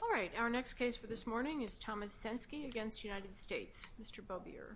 All right, our next case for this morning is Thomas Censke v. United States, Mr. Bouvier.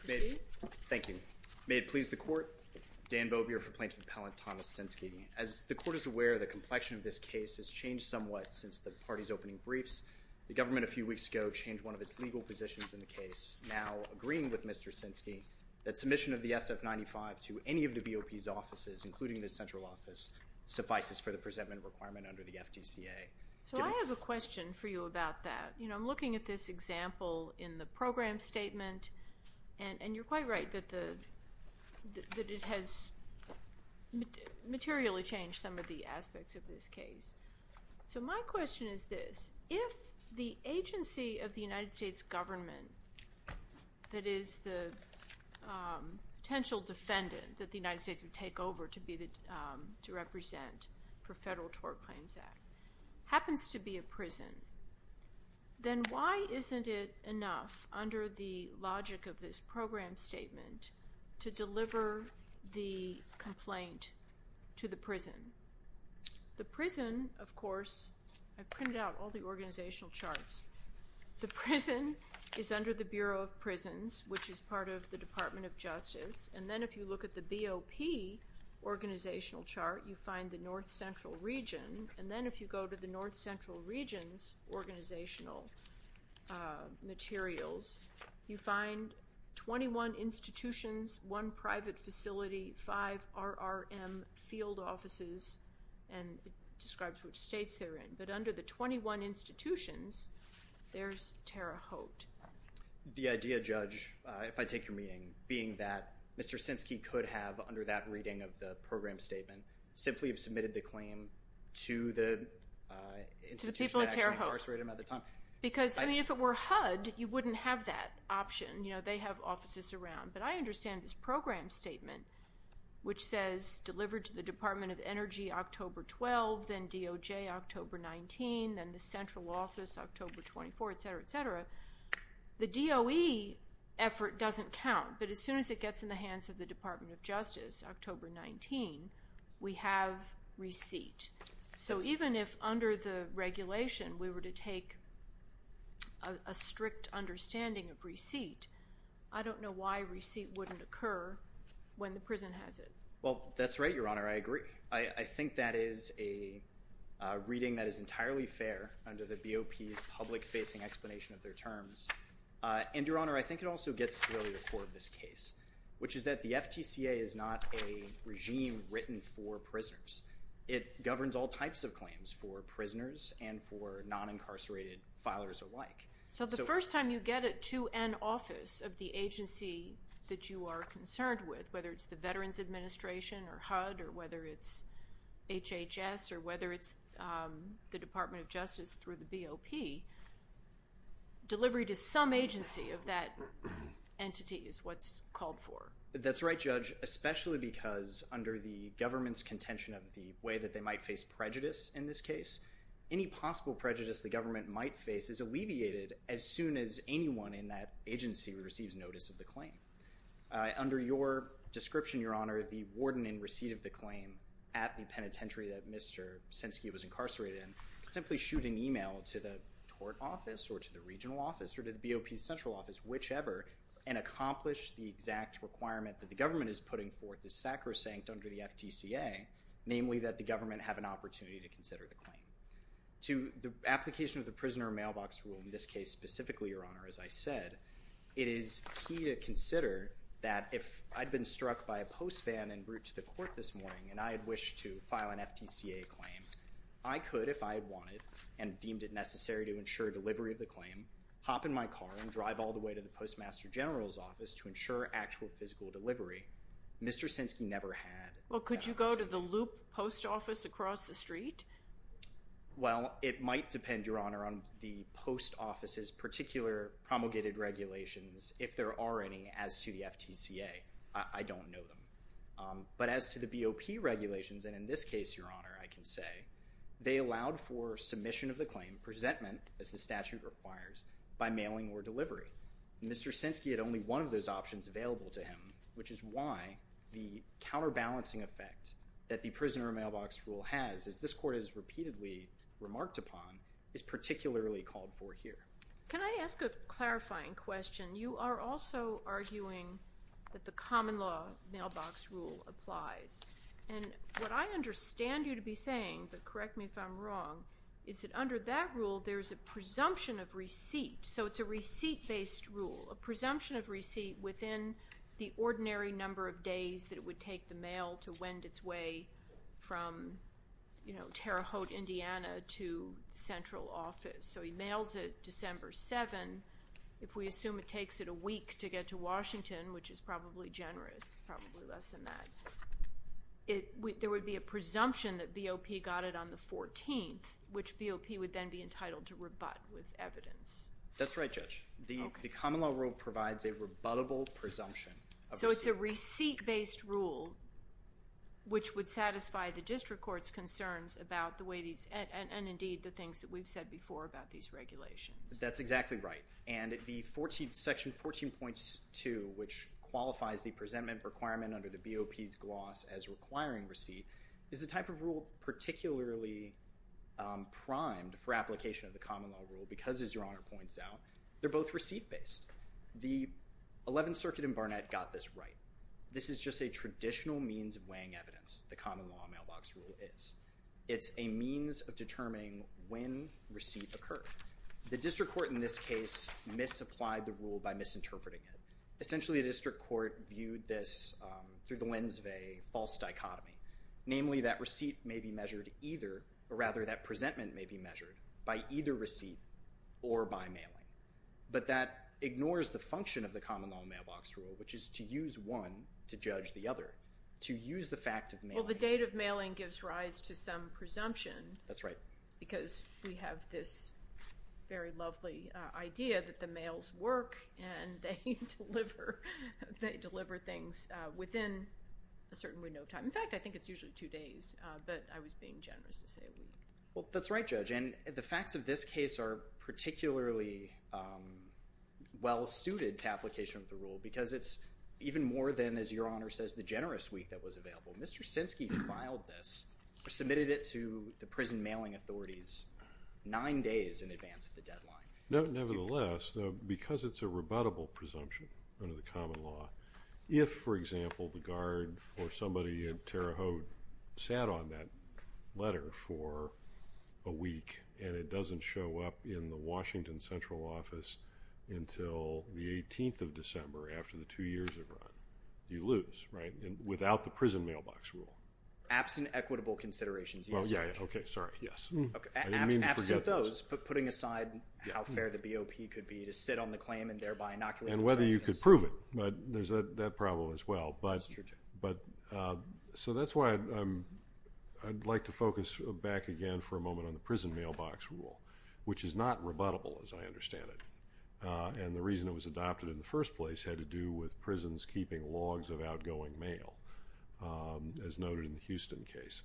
Thank you, Your Honor. Thank you. May it please the court, Dan Bouvier for plaintiff appellant Thomas Censke. As the court is aware, the complexion of this case has changed somewhat since the party's opening briefs. The government a few weeks ago changed one of its legal positions in the case, now agreeing with Mr. Censke that submission of the SF-95 to any of the BOP's offices, including the central office, suffices for the presentment requirement under the FTCA. So I have a question for you about that. You know, I'm looking at this example in the program statement, and you're quite right that it has materially changed some of the aspects of this case. So my question is this. If the agency of the United States government that is the potential defendant that the United States would take over to represent for Federal Tort Claims Act happens to be a prison, then why isn't it enough under the logic of this program statement to deliver the complaint to the prison? The prison, of course, I've printed out all the organizational charts. The prison is under the Bureau of Prisons, which is part of the Department of Justice. And then if you look at the BOP organizational chart, you find the north-central region. And then if you go to the north-central region's organizational materials, you find 21 institutions, one private facility, five RRM field offices, and it describes which states they're in. But under the 21 institutions, there's Tara Hote. The idea, Judge, if I take your meaning, being that Mr. Sinskey could have, under that reading of the program statement, simply have submitted the claim to the institution that actually incarcerated him at the time. Because, I mean, if it were HUD, you wouldn't have that option. You know, they have offices around. But I understand this program statement, which says, delivered to the Department of Energy October 12, then DOJ October 19, then the central office October 24, et cetera, et cetera. The DOE effort doesn't count. But as soon as it gets in the hands of the Department of Justice October 19, we have receipt. So even if under the regulation we were to take a strict understanding of receipt, I don't know why receipt wouldn't occur when the prison has it. Well, that's right, Your Honor. I agree. I think that is a reading that is entirely fair under the BOP's public-facing explanation of their terms. And, Your Honor, I think it also gets to the core of this case, which is that the FTCA is not a regime written for prisoners. It governs all types of claims for prisoners and for non-incarcerated filers alike. So the first time you get it to an office of the agency that you are concerned with, whether it's the Veterans Administration or HUD or whether it's HHS or whether it's the Department of Justice through the BOP, delivery to some agency of that entity is what's called for. That's right, Judge, especially because under the government's contention of the way that they might face prejudice in this case, any possible prejudice the government might face is alleviated as soon as anyone in that agency receives notice of the claim. Under your description, Your Honor, the warden in receipt of the claim at the penitentiary that Mr. Senske was incarcerated in could simply shoot an email to the tort office or to the regional office or to the BOP's central office, whichever, and accomplish the exact requirement that the government is putting forth is sacrosanct under the FTCA, namely that the government have an opportunity to consider the claim. To the application of the prisoner mailbox rule in this case specifically, Your Honor, as I said, it is key to consider that if I'd been struck by a post van en route to the court this morning and I had wished to file an FTCA claim, I could, if I had wanted and deemed it necessary to ensure delivery of the claim, hop in my car and drive all the way to the Postmaster General's office to ensure actual physical delivery. Mr. Senske never had that opportunity. Well, could you go to the loop post office across the street? Well, it might depend, Your Honor, on the post office's particular promulgated regulations, if there are any, as to the FTCA. I don't know them. But as to the BOP regulations, and in this case, Your Honor, I can say, they allowed for submission of the claim, presentment, as the statute requires, by mailing or delivery. Mr. Senske had only one of those options available to him, which is why the counterbalancing effect that the prisoner mailbox rule has, as this Court has repeatedly remarked upon, is particularly called for here. Can I ask a clarifying question? You are also arguing that the common law mailbox rule applies. And what I understand you to be saying, but correct me if I'm wrong, is that under that rule there is a presumption of receipt. So it's a receipt-based rule, a presumption of receipt within the ordinary number of days that it would take the mail to wend its way from, you know, Terre Haute, Indiana, to central office. So he mails it December 7th. If we assume it takes it a week to get to Washington, which is probably generous, it's probably less than that, there would be a presumption that BOP got it on the 14th, which BOP would then be entitled to rebut with evidence. That's right, Judge. The common law rule provides a rebuttable presumption of receipt. So it's a receipt-based rule, which would satisfy the district court's concerns about the way these and, indeed, the things that we've said before about these regulations. That's exactly right. And the section 14.2, which qualifies the presentment requirement under the BOP's gloss as requiring receipt, is the type of rule particularly primed for application of the common law rule because, as Your Honor points out, they're both receipt-based. The 11th Circuit in Barnett got this right. This is just a traditional means of weighing evidence, the common law mailbox rule is. It's a means of determining when receipt occurred. The district court in this case misapplied the rule by misinterpreting it. Essentially, the district court viewed this through the lens of a false dichotomy, namely that receipt may be measured either, or rather that presentment may be measured, by either receipt or by mailing. But that ignores the function of the common law mailbox rule, which is to use one to judge the other, to use the fact of mailing. Well, the date of mailing gives rise to some presumption. That's right. Because we have this very lovely idea that the mails work and they deliver things within a certain window of time. In fact, I think it's usually two days, but I was being generous to say a week. Well, that's right, Judge. And the facts of this case are particularly well-suited to application of the rule because it's even more than, as Your Honor says, the generous week that was available. Mr. Sinski filed this or submitted it to the prison mailing authorities nine days in advance of the deadline. Nevertheless, because it's a rebuttable presumption under the common law, if, for example, the guard or somebody at Terre Haute sat on that letter for a week and it doesn't show up in the Washington central office until the 18th of December after the two years have run, you lose, right? Without the prison mailbox rule. Absent equitable considerations, yes, Judge. Okay, sorry. I didn't mean to forget those. Absent those, but putting aside how fair the BOP could be to sit on the claim and thereby inoculate themselves against it. And whether you could prove it, but there's that problem as well. That's true, Judge. So that's why I'd like to focus back again for a moment on the prison mailbox rule, which is not rebuttable as I understand it. And the reason it was adopted in the first place had to do with prisons keeping logs of outgoing mail, as noted in the Houston case.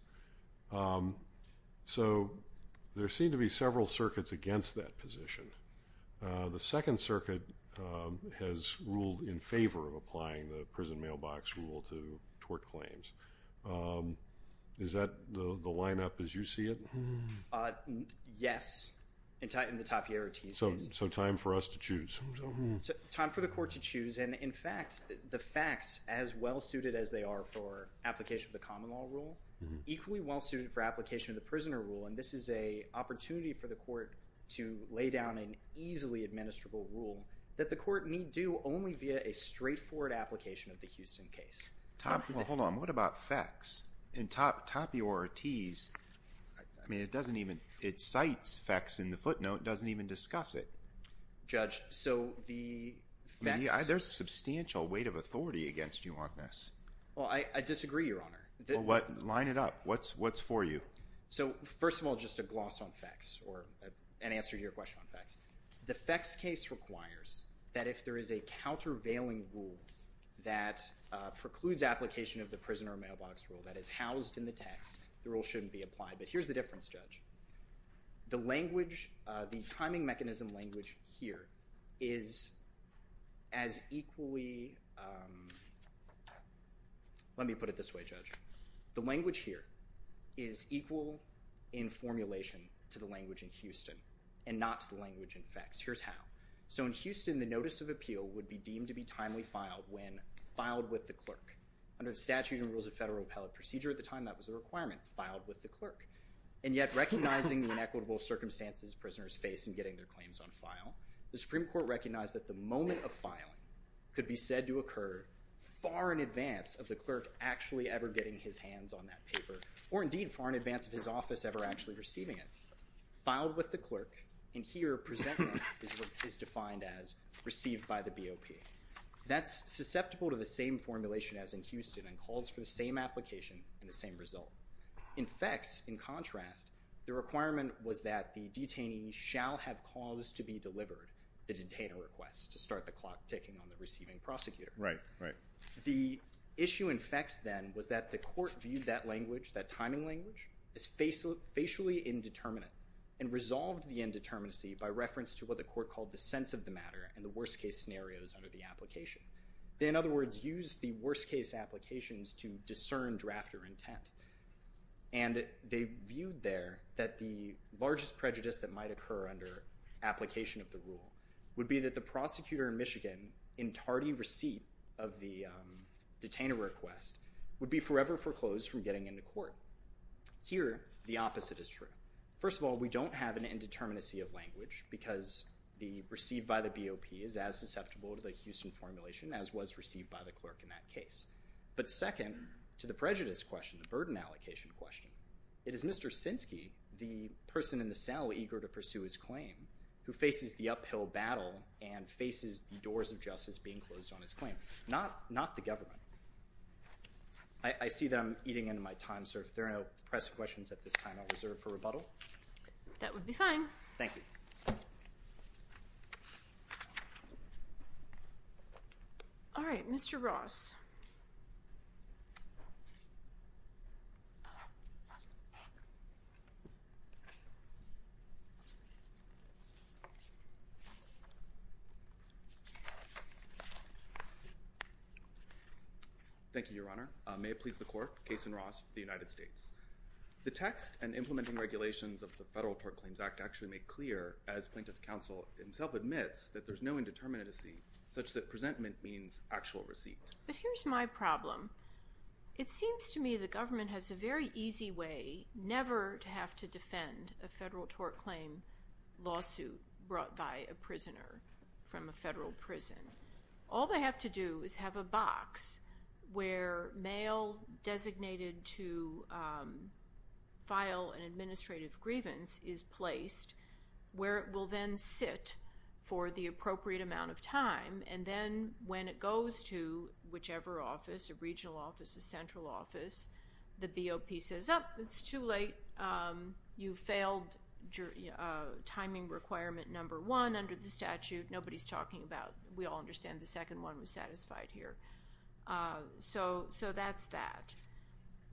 So there seem to be several circuits against that position. The Second Circuit has ruled in favor of applying the prison mailbox rule to tort claims. Is that the lineup as you see it? Yes, in the Tapier-Otis case. So time for us to choose. Time for the court to choose. And, in fact, the facts, as well suited as they are for application of the common law rule, equally well suited for application of the prisoner rule, and this is an opportunity for the court to lay down an easily administrable rule that the court need do only via a straightforward application of the Houston case. Well, hold on. What about facts? In Tapier-Otis, I mean, it doesn't even – it cites facts in the footnote. It doesn't even discuss it. Judge, so the facts— There's a substantial weight of authority against you on this. Well, I disagree, Your Honor. Well, line it up. What's for you? So, first of all, just a gloss on facts or an answer to your question on facts. The facts case requires that if there is a countervailing rule that precludes application of the prisoner mailbox rule that is housed in the text, the rule shouldn't be applied. But here's the difference, Judge. The language, the timing mechanism language here is as equally – let me put it this way, Judge. The language here is equal in formulation to the language in Houston and not to the language in facts. Here's how. So in Houston, the notice of appeal would be deemed to be timely filed when filed with the clerk. Under the Statutes and Rules of Federal Appellate Procedure at the time, that was a requirement, filed with the clerk. And yet, recognizing the inequitable circumstances prisoners face in getting their claims on file, the Supreme Court recognized that the moment of filing could be said to occur far in advance of the clerk actually ever getting his hands on that paper or, indeed, far in advance of his office ever actually receiving it. Filed with the clerk, and here presented is what is defined as received by the BOP. That's susceptible to the same formulation as in Houston and calls for the same application and the same result. In facts, in contrast, the requirement was that the detainee shall have cause to be delivered the detainer request to start the clock ticking on the receiving prosecutor. Right, right. The issue in facts then was that the court viewed that language, that timing language, as facially indeterminate and resolved the indeterminacy by reference to what the court called the sense of the matter and the worst-case scenarios under the application. In other words, use the worst-case applications to discern drafter intent. And they viewed there that the largest prejudice that might occur under application of the rule would be that the prosecutor in Michigan, in tardy receipt of the detainer request, would be forever foreclosed from getting into court. Here, the opposite is true. First of all, we don't have an indeterminacy of language because the received by the BOP is as susceptible to the Houston formulation as was received by the clerk in that case. But second to the prejudice question, the burden allocation question, it is Mr. Sinsky, the person in the cell eager to pursue his claim, who faces the uphill battle and faces the doors of justice being closed on his claim, not the government. I see that I'm eating into my time, so if there are no press questions at this time, I'll reserve for rebuttal. That would be fine. Thank you. All right. Mr. Ross. Thank you, Your Honor. May it please the Court, Case in Ross, the United States. The text and implementing regulations of the Federal Tort Claims Act actually make clear, as Plaintiff Counsel himself admits, that there's no indeterminacy such that presentment means actual receipt. But here's my problem. It seems to me the government has a very easy way never to have to defend a Federal Tort Claim lawsuit brought by a prisoner from a federal prison. All they have to do is have a box where mail designated to file an administrative grievance is placed, where it will then sit for the appropriate amount of time, and then when it goes to whichever office, a regional office, a central office, the BOP says, Oh, it's too late. You failed timing requirement number one under the statute. Nobody's talking about it. We all understand the second one was satisfied here. So that's that.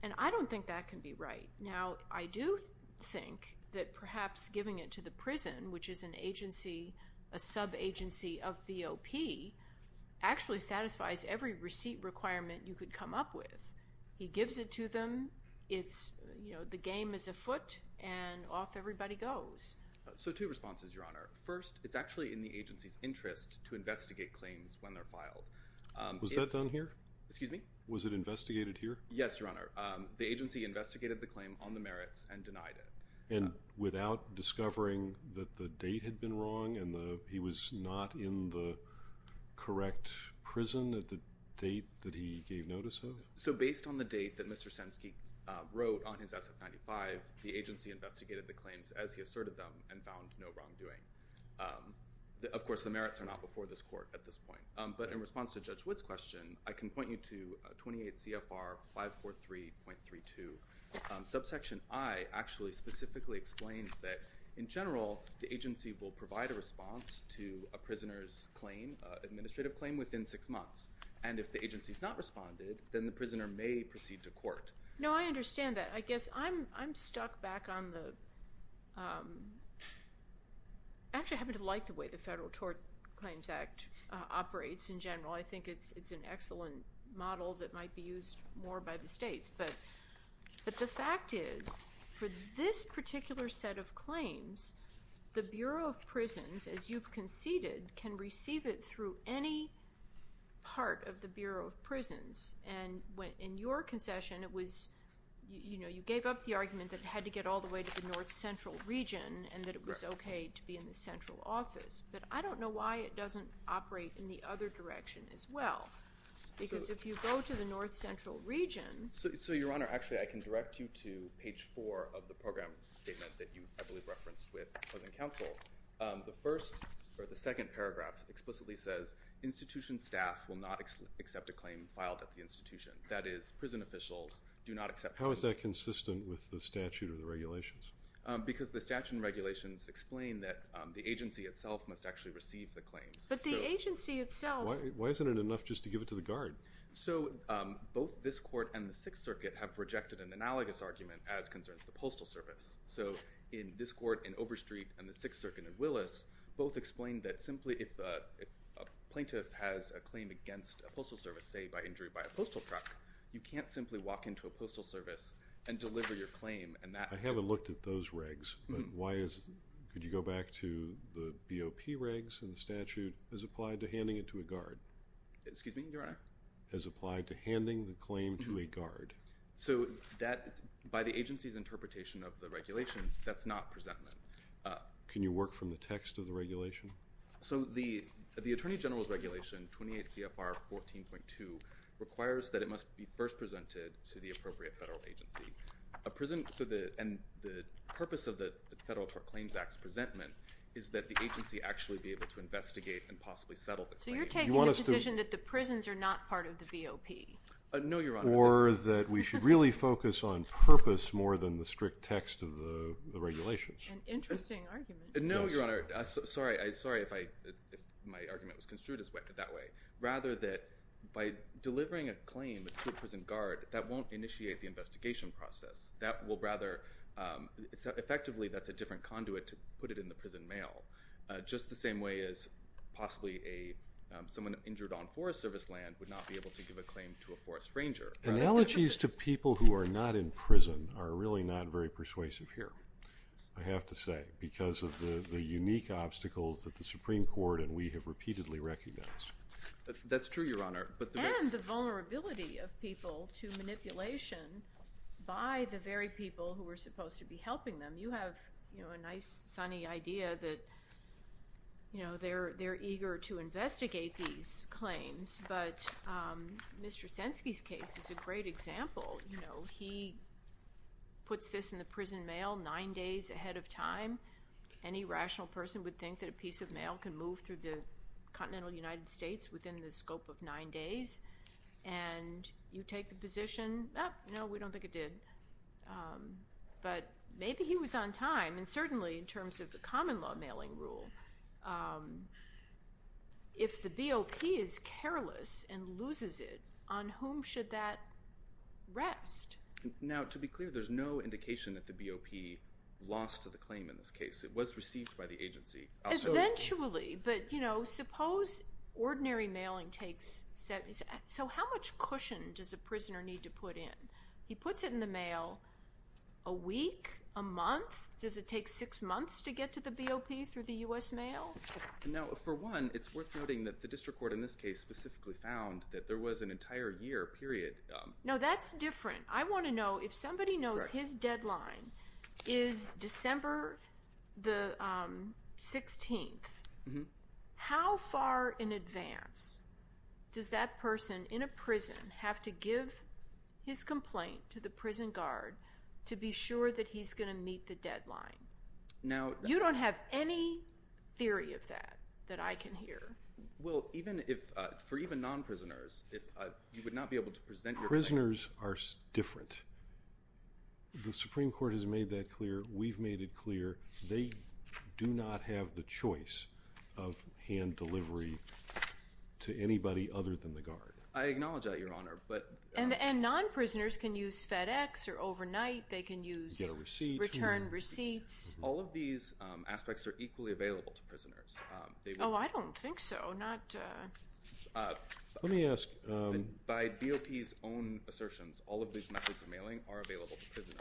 And I don't think that can be right. Now, I do think that perhaps giving it to the prison, which is an agency, a sub-agency of BOP, actually satisfies every receipt requirement you could come up with. He gives it to them. It's, you know, the game is afoot, and off everybody goes. So two responses, Your Honor. First, it's actually in the agency's interest to investigate claims when they're filed. Excuse me? Was it investigated here? Yes, Your Honor. The agency investigated the claim on the merits and denied it. And without discovering that the date had been wrong and he was not in the correct prison at the date that he gave notice of? So based on the date that Mr. Senske wrote on his SF-95, the agency investigated the claims as he asserted them and found no wrongdoing. Of course, the merits are not before this court at this point. But in response to Judge Wood's question, I can point you to 28 CFR 543.32. Subsection I actually specifically explains that, in general, the agency will provide a response to a prisoner's claim, administrative claim, within six months. And if the agency has not responded, then the prisoner may proceed to court. No, I understand that. I guess I'm stuck back on the actually I happen to like the way the Federal Tort Claims Act operates in general. I think it's an excellent model that might be used more by the states. But the fact is, for this particular set of claims, the Bureau of Prisons, as you've conceded, can receive it through any part of the Bureau of Prisons. And in your concession, it was, you know, you gave up the argument that it had to get all the way to the north central region and that it was okay to be in the central office. But I don't know why it doesn't operate in the other direction as well. Because if you go to the north central region. So, Your Honor, actually, I can direct you to page four of the program statement that you, I believe, referenced with the counsel. The first or the second paragraph explicitly says, institution staff will not accept a claim filed at the institution. That is, prison officials do not accept. How is that consistent with the statute or the regulations? Because the statute and regulations explain that the agency itself must actually receive the claims. But the agency itself. Why isn't it enough just to give it to the guard? So, both this court and the Sixth Circuit have rejected an analogous argument as concerns the postal service. So, in this court in Overstreet and the Sixth Circuit in Willis, both explain that simply if a plaintiff has a claim against a postal service, say by injury by a postal truck, you can't simply walk into a postal service and deliver your claim. I haven't looked at those regs. Could you go back to the BOP regs and the statute as applied to handing it to a guard? Excuse me, Your Honor? As applied to handing the claim to a guard. So, by the agency's interpretation of the regulations, that's not presentment. Can you work from the text of the regulation? So, the Attorney General's regulation, 28 CFR 14.2, requires that it must be first presented to the appropriate federal agency. And the purpose of the Federal Claims Act's presentment is that the agency actually be able to investigate and possibly settle the claim. So, you're taking the position that the prisons are not part of the BOP? No, Your Honor. Or that we should really focus on purpose more than the strict text of the regulations. An interesting argument. No, Your Honor. Sorry if my argument was construed that way. Rather that by delivering a claim to a prison guard, that won't initiate the investigation process. That will rather, effectively, that's a different conduit to put it in the prison mail. Just the same way as possibly someone injured on Forest Service land would not be able to give a claim to a Forest Ranger. Analogies to people who are not in prison are really not very persuasive here, I have to say, because of the unique obstacles that the Supreme Court and we have repeatedly recognized. That's true, Your Honor. And the vulnerability of people to manipulation by the very people who are supposed to be helping them. You have a nice, sunny idea that they're eager to investigate these claims, but Mr. Senske's case is a great example. He puts this in the prison mail nine days ahead of time. Any rational person would think that a piece of mail can move through the United States within the scope of nine days. And you take the position, no, we don't think it did. But maybe he was on time, and certainly in terms of the common law mailing rule. If the BOP is careless and loses it, on whom should that rest? Now, to be clear, there's no indication that the BOP lost to the claim in this case. It was received by the agency. Eventually. But, you know, suppose ordinary mailing takes seven days. So how much cushion does a prisoner need to put in? He puts it in the mail a week, a month. Does it take six months to get to the BOP through the U.S. mail? Now, for one, it's worth noting that the district court in this case specifically found that there was an entire year period. No, that's different. I want to know if somebody knows his deadline is December the 16th, how far in advance does that person in a prison have to give his complaint to the prison guard to be sure that he's going to meet the deadline? Now, you don't have any theory of that that I can hear. Well, even if, for even non-prisoners, if you would not be able to present your prisoners are different, the Supreme court has made that clear. We've made it clear. They do not have the choice of hand delivery to anybody other than the guard. I acknowledge that your honor, but, and, and non-prisoners can use FedEx or overnight. They can use receipts, return receipts. All of these aspects are equally available to prisoners. Oh, I don't think so. I'm not, uh, let me ask, um, By BOP his own assertions, all of these methods of mailing are available to prisoners.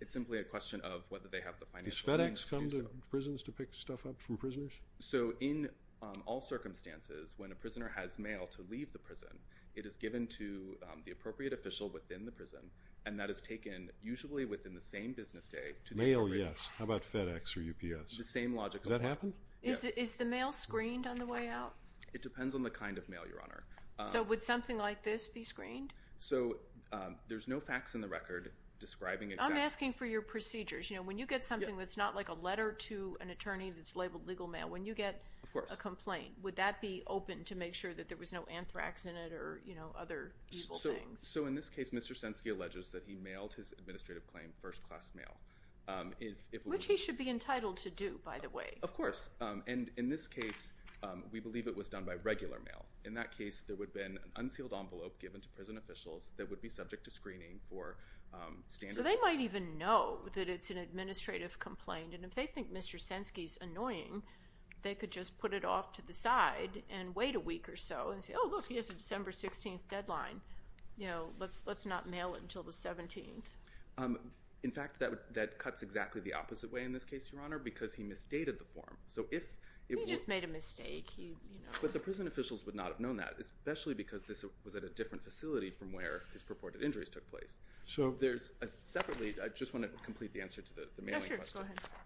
It's simply a question of whether they have the financial FedEx come to prisons to pick stuff up from prisoners. So in all circumstances, when a prisoner has mail to leave the prison, it is given to the appropriate official within the prison. And that is taken usually within the same business day to mail. Yes. How about FedEx or UPS? The same logic. Does that happen? Is it, is the mail screened on the way out? It depends on the kind of mail your honor. So would something like this be screened? So, um, there's no facts in the record describing it. I'm asking for your procedures. You know, when you get something, that's not like a letter to an attorney that's labeled legal mail, when you get a complaint, would that be open to make sure that there was no anthrax in it or, you know, other evil things. So in this case, Mr. Senske alleges that he mailed his administrative claim first class mail. Um, if, if, which he should be entitled to do by the way, of course. Um, and in this case, um, we believe it was done by regular mail. In that case, there would have been an unsealed envelope given to prison officials that would be subject to screening for, um, standards. So they might even know that it's an administrative complaint. And if they think Mr. Senske is annoying, they could just put it off to the side and wait a week or so and say, Oh look, he has a December 16th deadline. You know, let's, let's not mail it until the 17th. Um, in fact that would, that cuts exactly the opposite way in this case, your honor, because he misstated the form. So if he just made a mistake, he, you know, but the prison officials would not have known that, especially because this was at a different facility from where his purported injuries took place. So there's a separately, I just want to complete the answer to the, the mail.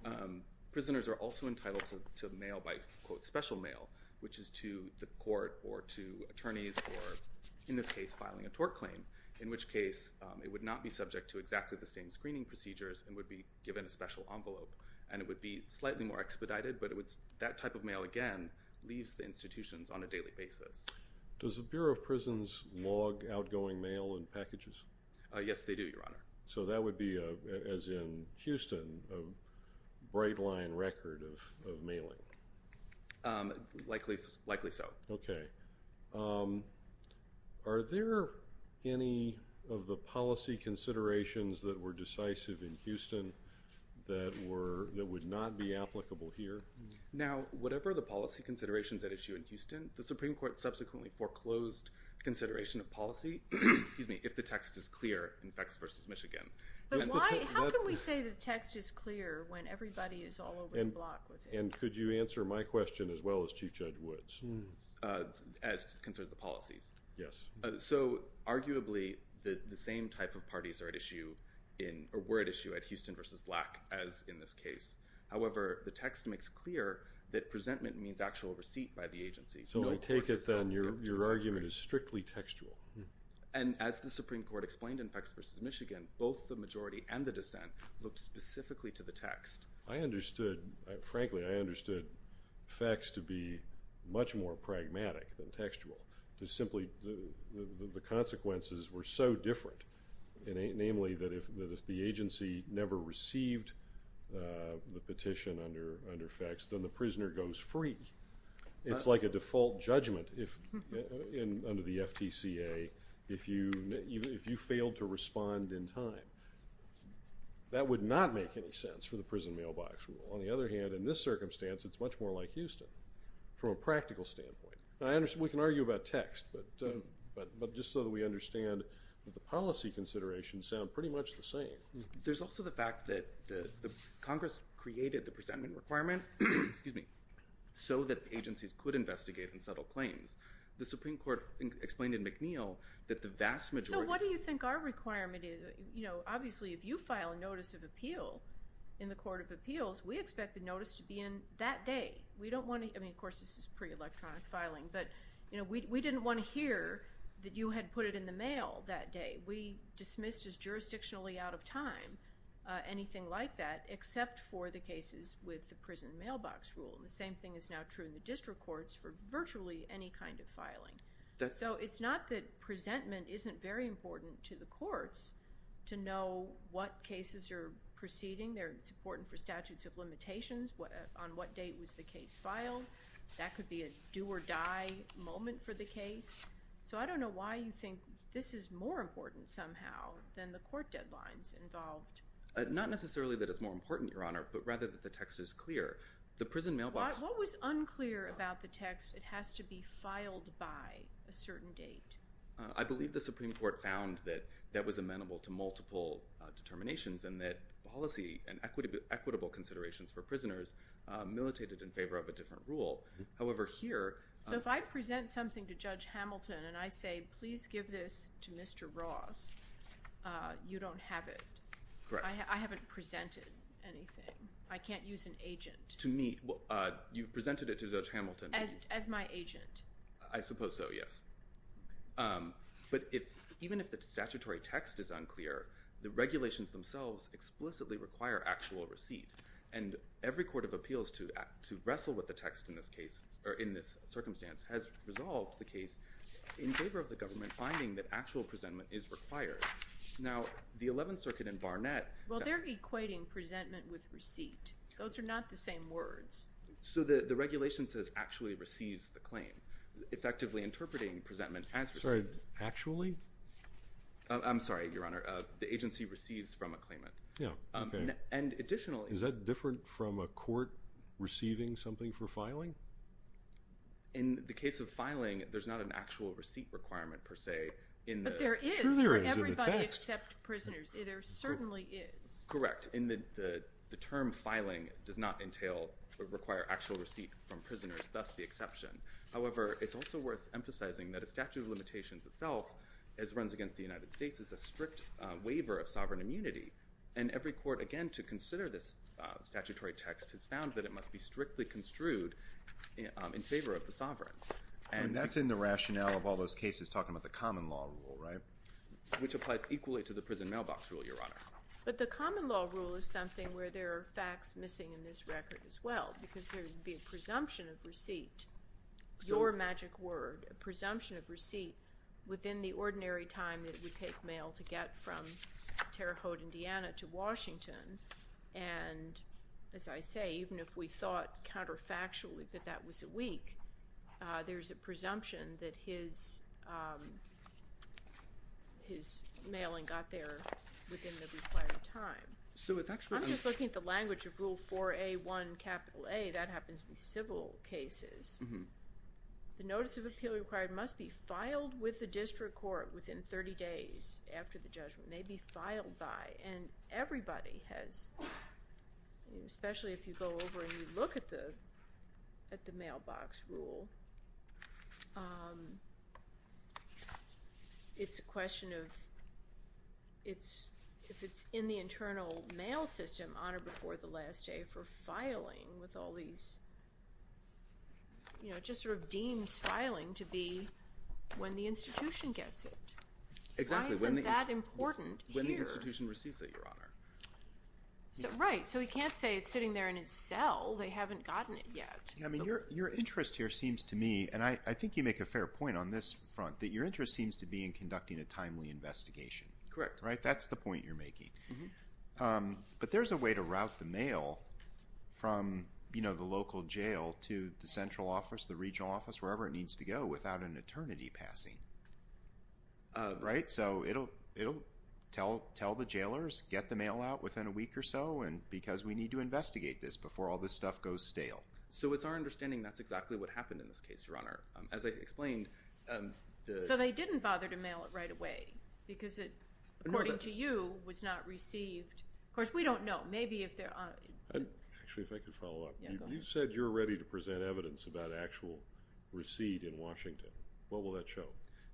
Um, prisoners are also entitled to, to mail by quote special mail, which is to the court or to attorneys or in this case, filing a tort claim in which case, um, it would not be subject to exactly the same screening procedures and would be given a special envelope. And it would be slightly more expedited, but it would, that type of mail again, leaves the institutions on a daily basis. Does the Bureau of prisons log outgoing mail and packages? Uh, yes they do your honor. So that would be a, as in Houston, a bright line record of, of mailing. Um, likely, likely so. Okay. Um, are there any of the policy considerations that were decisive in Houston that were, that would not be applicable here? Now, whatever the policy considerations that issue in Houston, the Supreme court subsequently foreclosed consideration of policy. Excuse me. If the text is clear, in fact, versus Michigan, how can we say the text is clear when everybody is all over the block with it? And could you answer my question as well as chief judge Woods, uh, Yes. So arguably the, the same type of parties are at issue in a word issue at Houston versus lack as in this case. However, the text makes clear that presentment means actual receipt by the agency. So I take it then your, your argument is strictly textual. And as the Supreme court explained in facts versus Michigan, both the majority and the dissent looked specifically to the text. I understood, frankly, I understood facts to be much more pragmatic than textual to simply the, the, the consequences were so different. It ain't namely that if, that if the agency never received, uh, the petition under, under facts, then the prisoner goes free. It's like a default judgment. If in, under the FTCA, if you, if you failed to respond in time, that would not make any sense for the prison mailbox rule. On the other hand, in this circumstance, it's much more like Houston from a practical standpoint. I understand we can argue about text, but, but, but just so that we understand that the policy considerations sound pretty much the same. There's also the fact that the Congress created the presentment requirement, excuse me, so that the agencies could investigate and settle claims. The Supreme court explained in McNeil that the vast majority, what do you think our requirement is? You know, obviously if you file a notice of appeal in the court of appeals, we expect the notice to be in that day. We don't want to, I mean, of course this is pre electronic filing, but you know, we didn't want to hear that you had put it in the mail that day. We dismissed as jurisdictionally out of time, anything like that, except for the cases with the prison mailbox rule. And the same thing is now true in the district courts for virtually any kind of filing. So it's not that presentment isn't very important to the courts to know what cases are proceeding there. It's important for statutes of limitations. What on what date was the case filed? That could be a do or die moment for the case. So I don't know why you think this is more important somehow than the court deadlines involved. Not necessarily that it's more important, your honor, but rather that the text is clear. The prison mailbox, what was unclear about the text? It has to be filed by a certain date. I believe the Supreme court found that that was amenable to multiple determinations and that policy and equity equitable considerations for the court. It's a rule. However, here, so if I present something to judge Hamilton and I say, please give this to mr. Ross, uh, you don't have it. I haven't presented anything. I can't use an agent to me. Uh, you've presented it to judge Hamilton as my agent, I suppose. So, yes. Um, but if even if the statutory text is unclear, the regulations themselves explicitly require actual receipt and every court of appeals to act, to wrestle with the text in this case or in this circumstance has resolved. The case in favor of the government finding that actual presentment is required. Now the 11th circuit and Barnett, well, they're equating presentment with receipt. Those are not the same words. So the, the regulation says actually receives the claim effectively interpreting presentment as actually, I'm sorry, your honor, uh, the agency receives from a claimant. Um, and additionally, is that different from a court receiving something for filing in the case of filing? There's not an actual receipt requirement per se, but there is everybody except prisoners. There certainly is correct. In the, the, the term filing does not entail or require actual receipt from prisoners. That's the exception. However, it's also worth emphasizing that a statute of limitations itself as runs against the United States is a strict waiver of sovereign immunity. And every court, again, to consider this, uh, statutory text has found that it must be strictly construed in favor of the sovereign. And that's in the rationale of all those cases talking about the common law rule, right? Which applies equally to the prison mailbox rule, your honor. But the common law rule is something where there are facts missing in this record as well, because there'd be a presumption of receipt, your magic word, a presumption of receipt within the ordinary time that we take mail to get from Terre Haute, Indiana to Washington. And as I say, even if we thought counterfactually that that was a week, uh, there's a presumption that his, um, his mailing got there within the required time. So it's actually, I'm just looking at the language of rule four, a one capital a, that happens to be civil cases. The notice of appeal required must be filed with the district court within 30 days after the judgment may be filed by. And everybody has, especially if you go over and you look at the, at the mailbox rule, um, it's a question of it's, if it's in the internal mail system on or before the last day for filing with all these, you know, just sort of deems filing to be when the institution gets it. Exactly. When that important when the institution receives it, your honor. So, right. So he can't say it's sitting there in his cell. They haven't gotten it yet. I mean, your, your interest here seems to me, and I think you make a fair point on this front that your interest seems to be in conducting a timely investigation. Right. That's the point you're making. Um, but there's a way to route the mail from, you know, the local jail to the central office, the regional office, wherever it needs to go without an eternity passing. Um, right. So it'll, it'll tell, tell the jailers, get the mail out within a week or so. And because we need to investigate this before all this stuff goes stale. So it's our understanding. That's exactly what happened in this case runner. Um, as I explained, um, so they didn't bother to mail it right away because it, according to you was not received. Of course we don't know. Maybe if there are actually, if I could follow up, you said you're ready to present evidence about actual receipt in Washington. What will that show?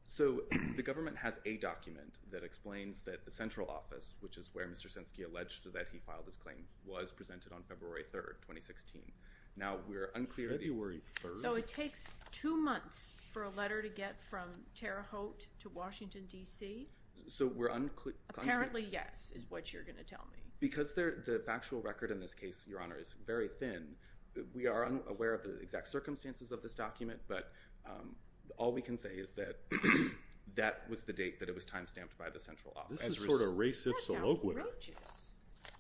So the government has a document that explains that the central office, which is where Mr. Senske alleged that he filed his claim was presented on February 3rd, 2016. Now we're unclear. February 3rd. So it takes two months for a letter to get from Tara Holt to Washington, DC. So we're unclear. Currently. Yes. Is what you're going to tell me because they're the factual record in this case, your honor is very thin. We are unaware of the exact circumstances of this document, but, um, all we can say is that that was the date that it was timestamped by the central office. This is sort of racist. So,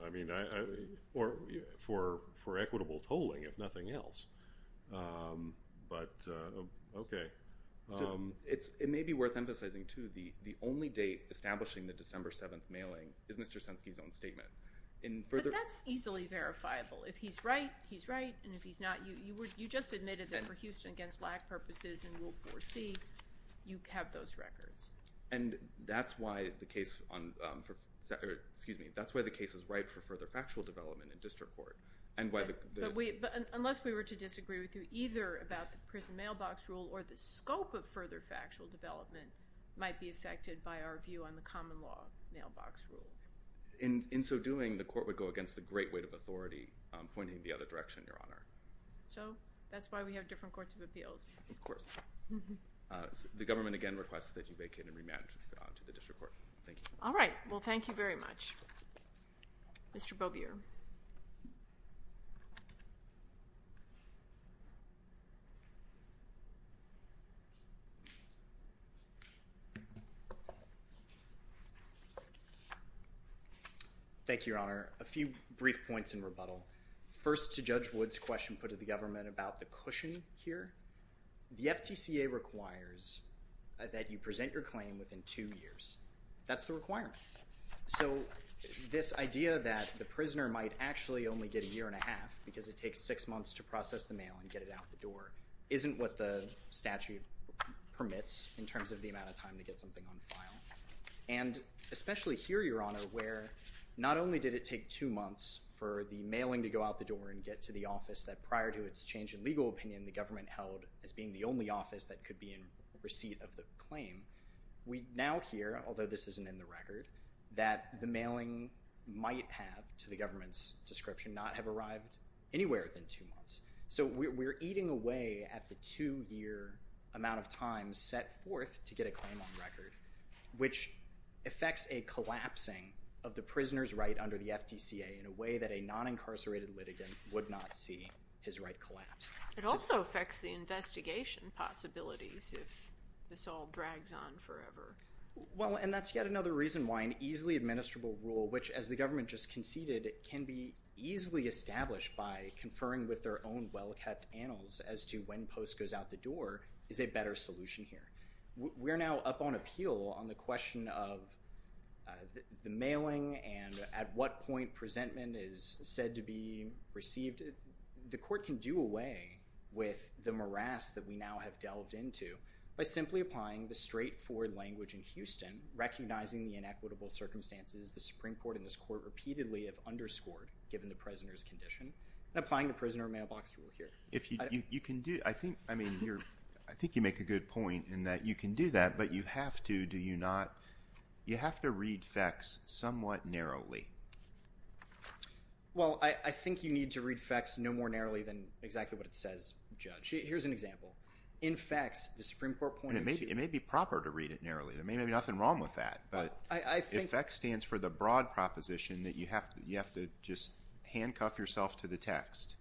I mean, I, I, or for, for equitable tolling, if nothing else. Um, but, uh, okay. Um, it's, it may be worth emphasizing to the, the only date establishing the December 7th mailing is Mr. Senske's own statement. And that's easily verifiable. If he's right, he's right. And if he's not, you would, you just admitted that for Houston against lack purposes and we'll foresee you have those records. And that's why the case on, um, for, excuse me. That's why the case is right for further factual development in district court. And why the, but we, but unless we were to disagree with you either about the prison mailbox rule or the scope of further factual development might be affected by our view on the common law mailbox rule. In, in so doing the court would go against the great weight of authority, um, pointing the other direction, Your Honor. So that's why we have different courts of appeals. Of course. Uh, the government again requests that you vacate and rematch to the district court. Thank you. All right. Well, thank you very much, Mr. Bobbier. Thank you, Your Honor. A few brief points in rebuttal. First to judge Woods question put to the government about the cushion here. The FTCA requires that you present your claim within two years. That's the requirement. So this idea that the prisoner might actually only get a year and a half because it takes six months to process the mail and get it out the door isn't what the statute permits in terms of the amount of time to get something on file. And especially here, Your Honor, where not only did it take two months for the mailing to go out the door and get to the office that prior to its change in legal opinion, the government held as being the only office that could be in receipt of the claim. We now hear, although this isn't in the record, that the mailing might have to the government's description, not have arrived anywhere within two months. So we're, we're eating away at the two year amount of time set forth to get a claim on record, which affects a collapsing of the prisoner's right under the FTCA in a way that a non-incarcerated litigant would not see his right collapse. It also affects the investigation possibilities if this all drags on forever. Well, and that's yet another reason why an easily administrable rule, which as the government just conceded, it can be easily established by conferring with their own well-kept annals as to when post goes out the door is a better solution here. We're now up on appeal on the question of, uh, the mailing and at what point presentment is said to be received. The court can do away with the morass that we now have delved into by simply applying the straightforward language in Houston, recognizing the inequitable circumstances, the Supreme court in this court repeatedly have underscored given the prisoner's condition and applying the prisoner mailbox rule here. If you, you can do, I mean, you're, I think you make a good point in that you can do that, but you have to, do you not, you have to read facts somewhat narrowly. Well, I think you need to read facts no more narrowly than exactly what it says. Judge, here's an example. In facts, the Supreme court pointed to, it may be proper to read it narrowly. There may be nothing wrong with that, but I think that stands for the broad proposition that you have to, you have to just handcuff yourself to the text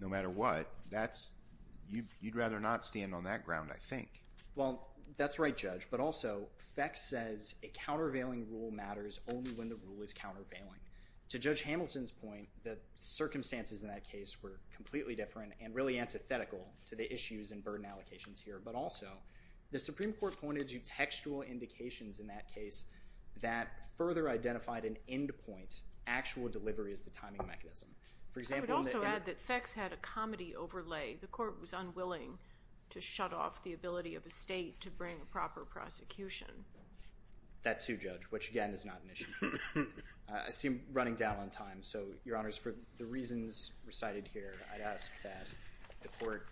no matter what that's you. You'd rather not stand on that ground. I think, well, that's right, judge, but also facts says a countervailing rule matters only when the rule is countervailing to judge Hamilton's point. The circumstances in that case were completely different and really antithetical to the issues and burden allocations here, but also the Supreme court pointed to textual indications in that case that further identified an end point. Actual delivery is the timing mechanism. For example, I would also add that facts had a comedy overlay. The court was unwilling to shut off the ability of a state to bring a proper prosecution. That too, judge, which again is not an issue. I assume running down on time. So your honors, for the reasons recited here, I'd ask that the court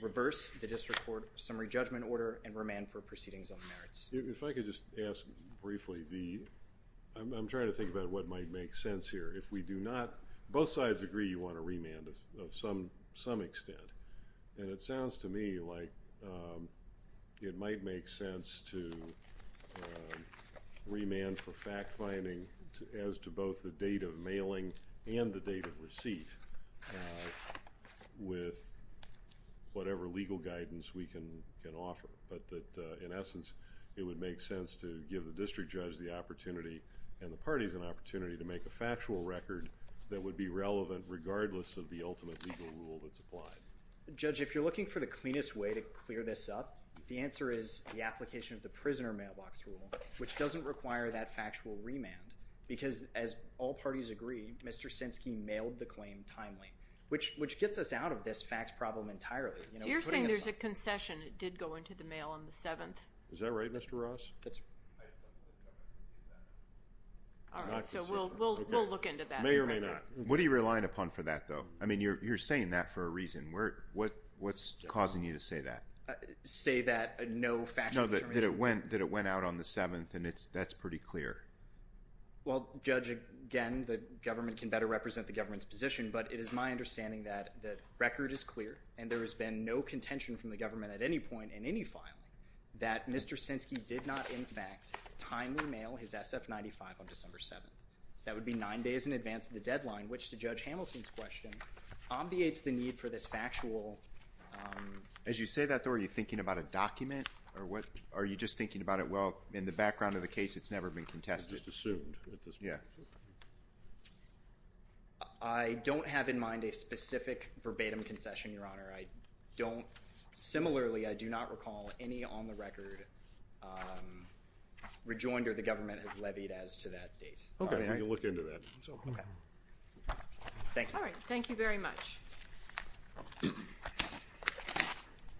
reverse the district court summary judgment order and remand for proceedings on the merits. If I could just ask briefly the, I'm trying to think about what might make sense here. If we do not, both sides agree, you want to remand us of some, some extent. And it sounds to me like, um, it might make sense to, uh, remand for fact finding as to both the date of mailing and the date of receipt, uh, with whatever legal guidance we can, can offer. But that, uh, in essence, it would make sense to give the district judge the opportunity and the factual record that would be relevant regardless of the ultimate legal rule that's applied. The judge, if you're looking for the cleanest way to clear this up, the answer is the application of the prisoner mailbox rule, which doesn't require that factual remand because as all parties agree, Mr. Sinski mailed the claim timely, which, which gets us out of this fact problem entirely. You're saying there's a concession. It did go into the mail on the seventh. Is that right? Mr. Ross. That's all right. So we'll, we'll, we'll look into that. May or may not. What are you relying upon for that though? I mean, you're, you're saying that for a reason where, what, what's causing you to say that, uh, say that, uh, no fact that it went, that it went out on the seventh and it's, that's pretty clear. Well, judge again, the government can better represent the government's position, but it is my understanding that the record is clear and there has been no contention from the government at any point in any file that Mr. Sinski did not. In fact, timely mail his SF 95 on December 7th. That would be nine days in advance of the deadline, which the judge Hamilton's question obviates the need for this factual. Um, as you say that though, are you thinking about a document or what? Are you just thinking about it? Well, in the background of the case, it's never been contested. Just assumed. Yeah. Okay. I don't have in mind a specific verbatim concession, your honor. I don't. Similarly, I do not recall any on the record. Um, rejoinder. The government has levied as to that date. Okay. You can look into that. So, okay. Thank you. All right. Thank you very much.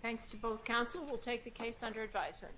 Thanks to both council. We'll take the case under advisement.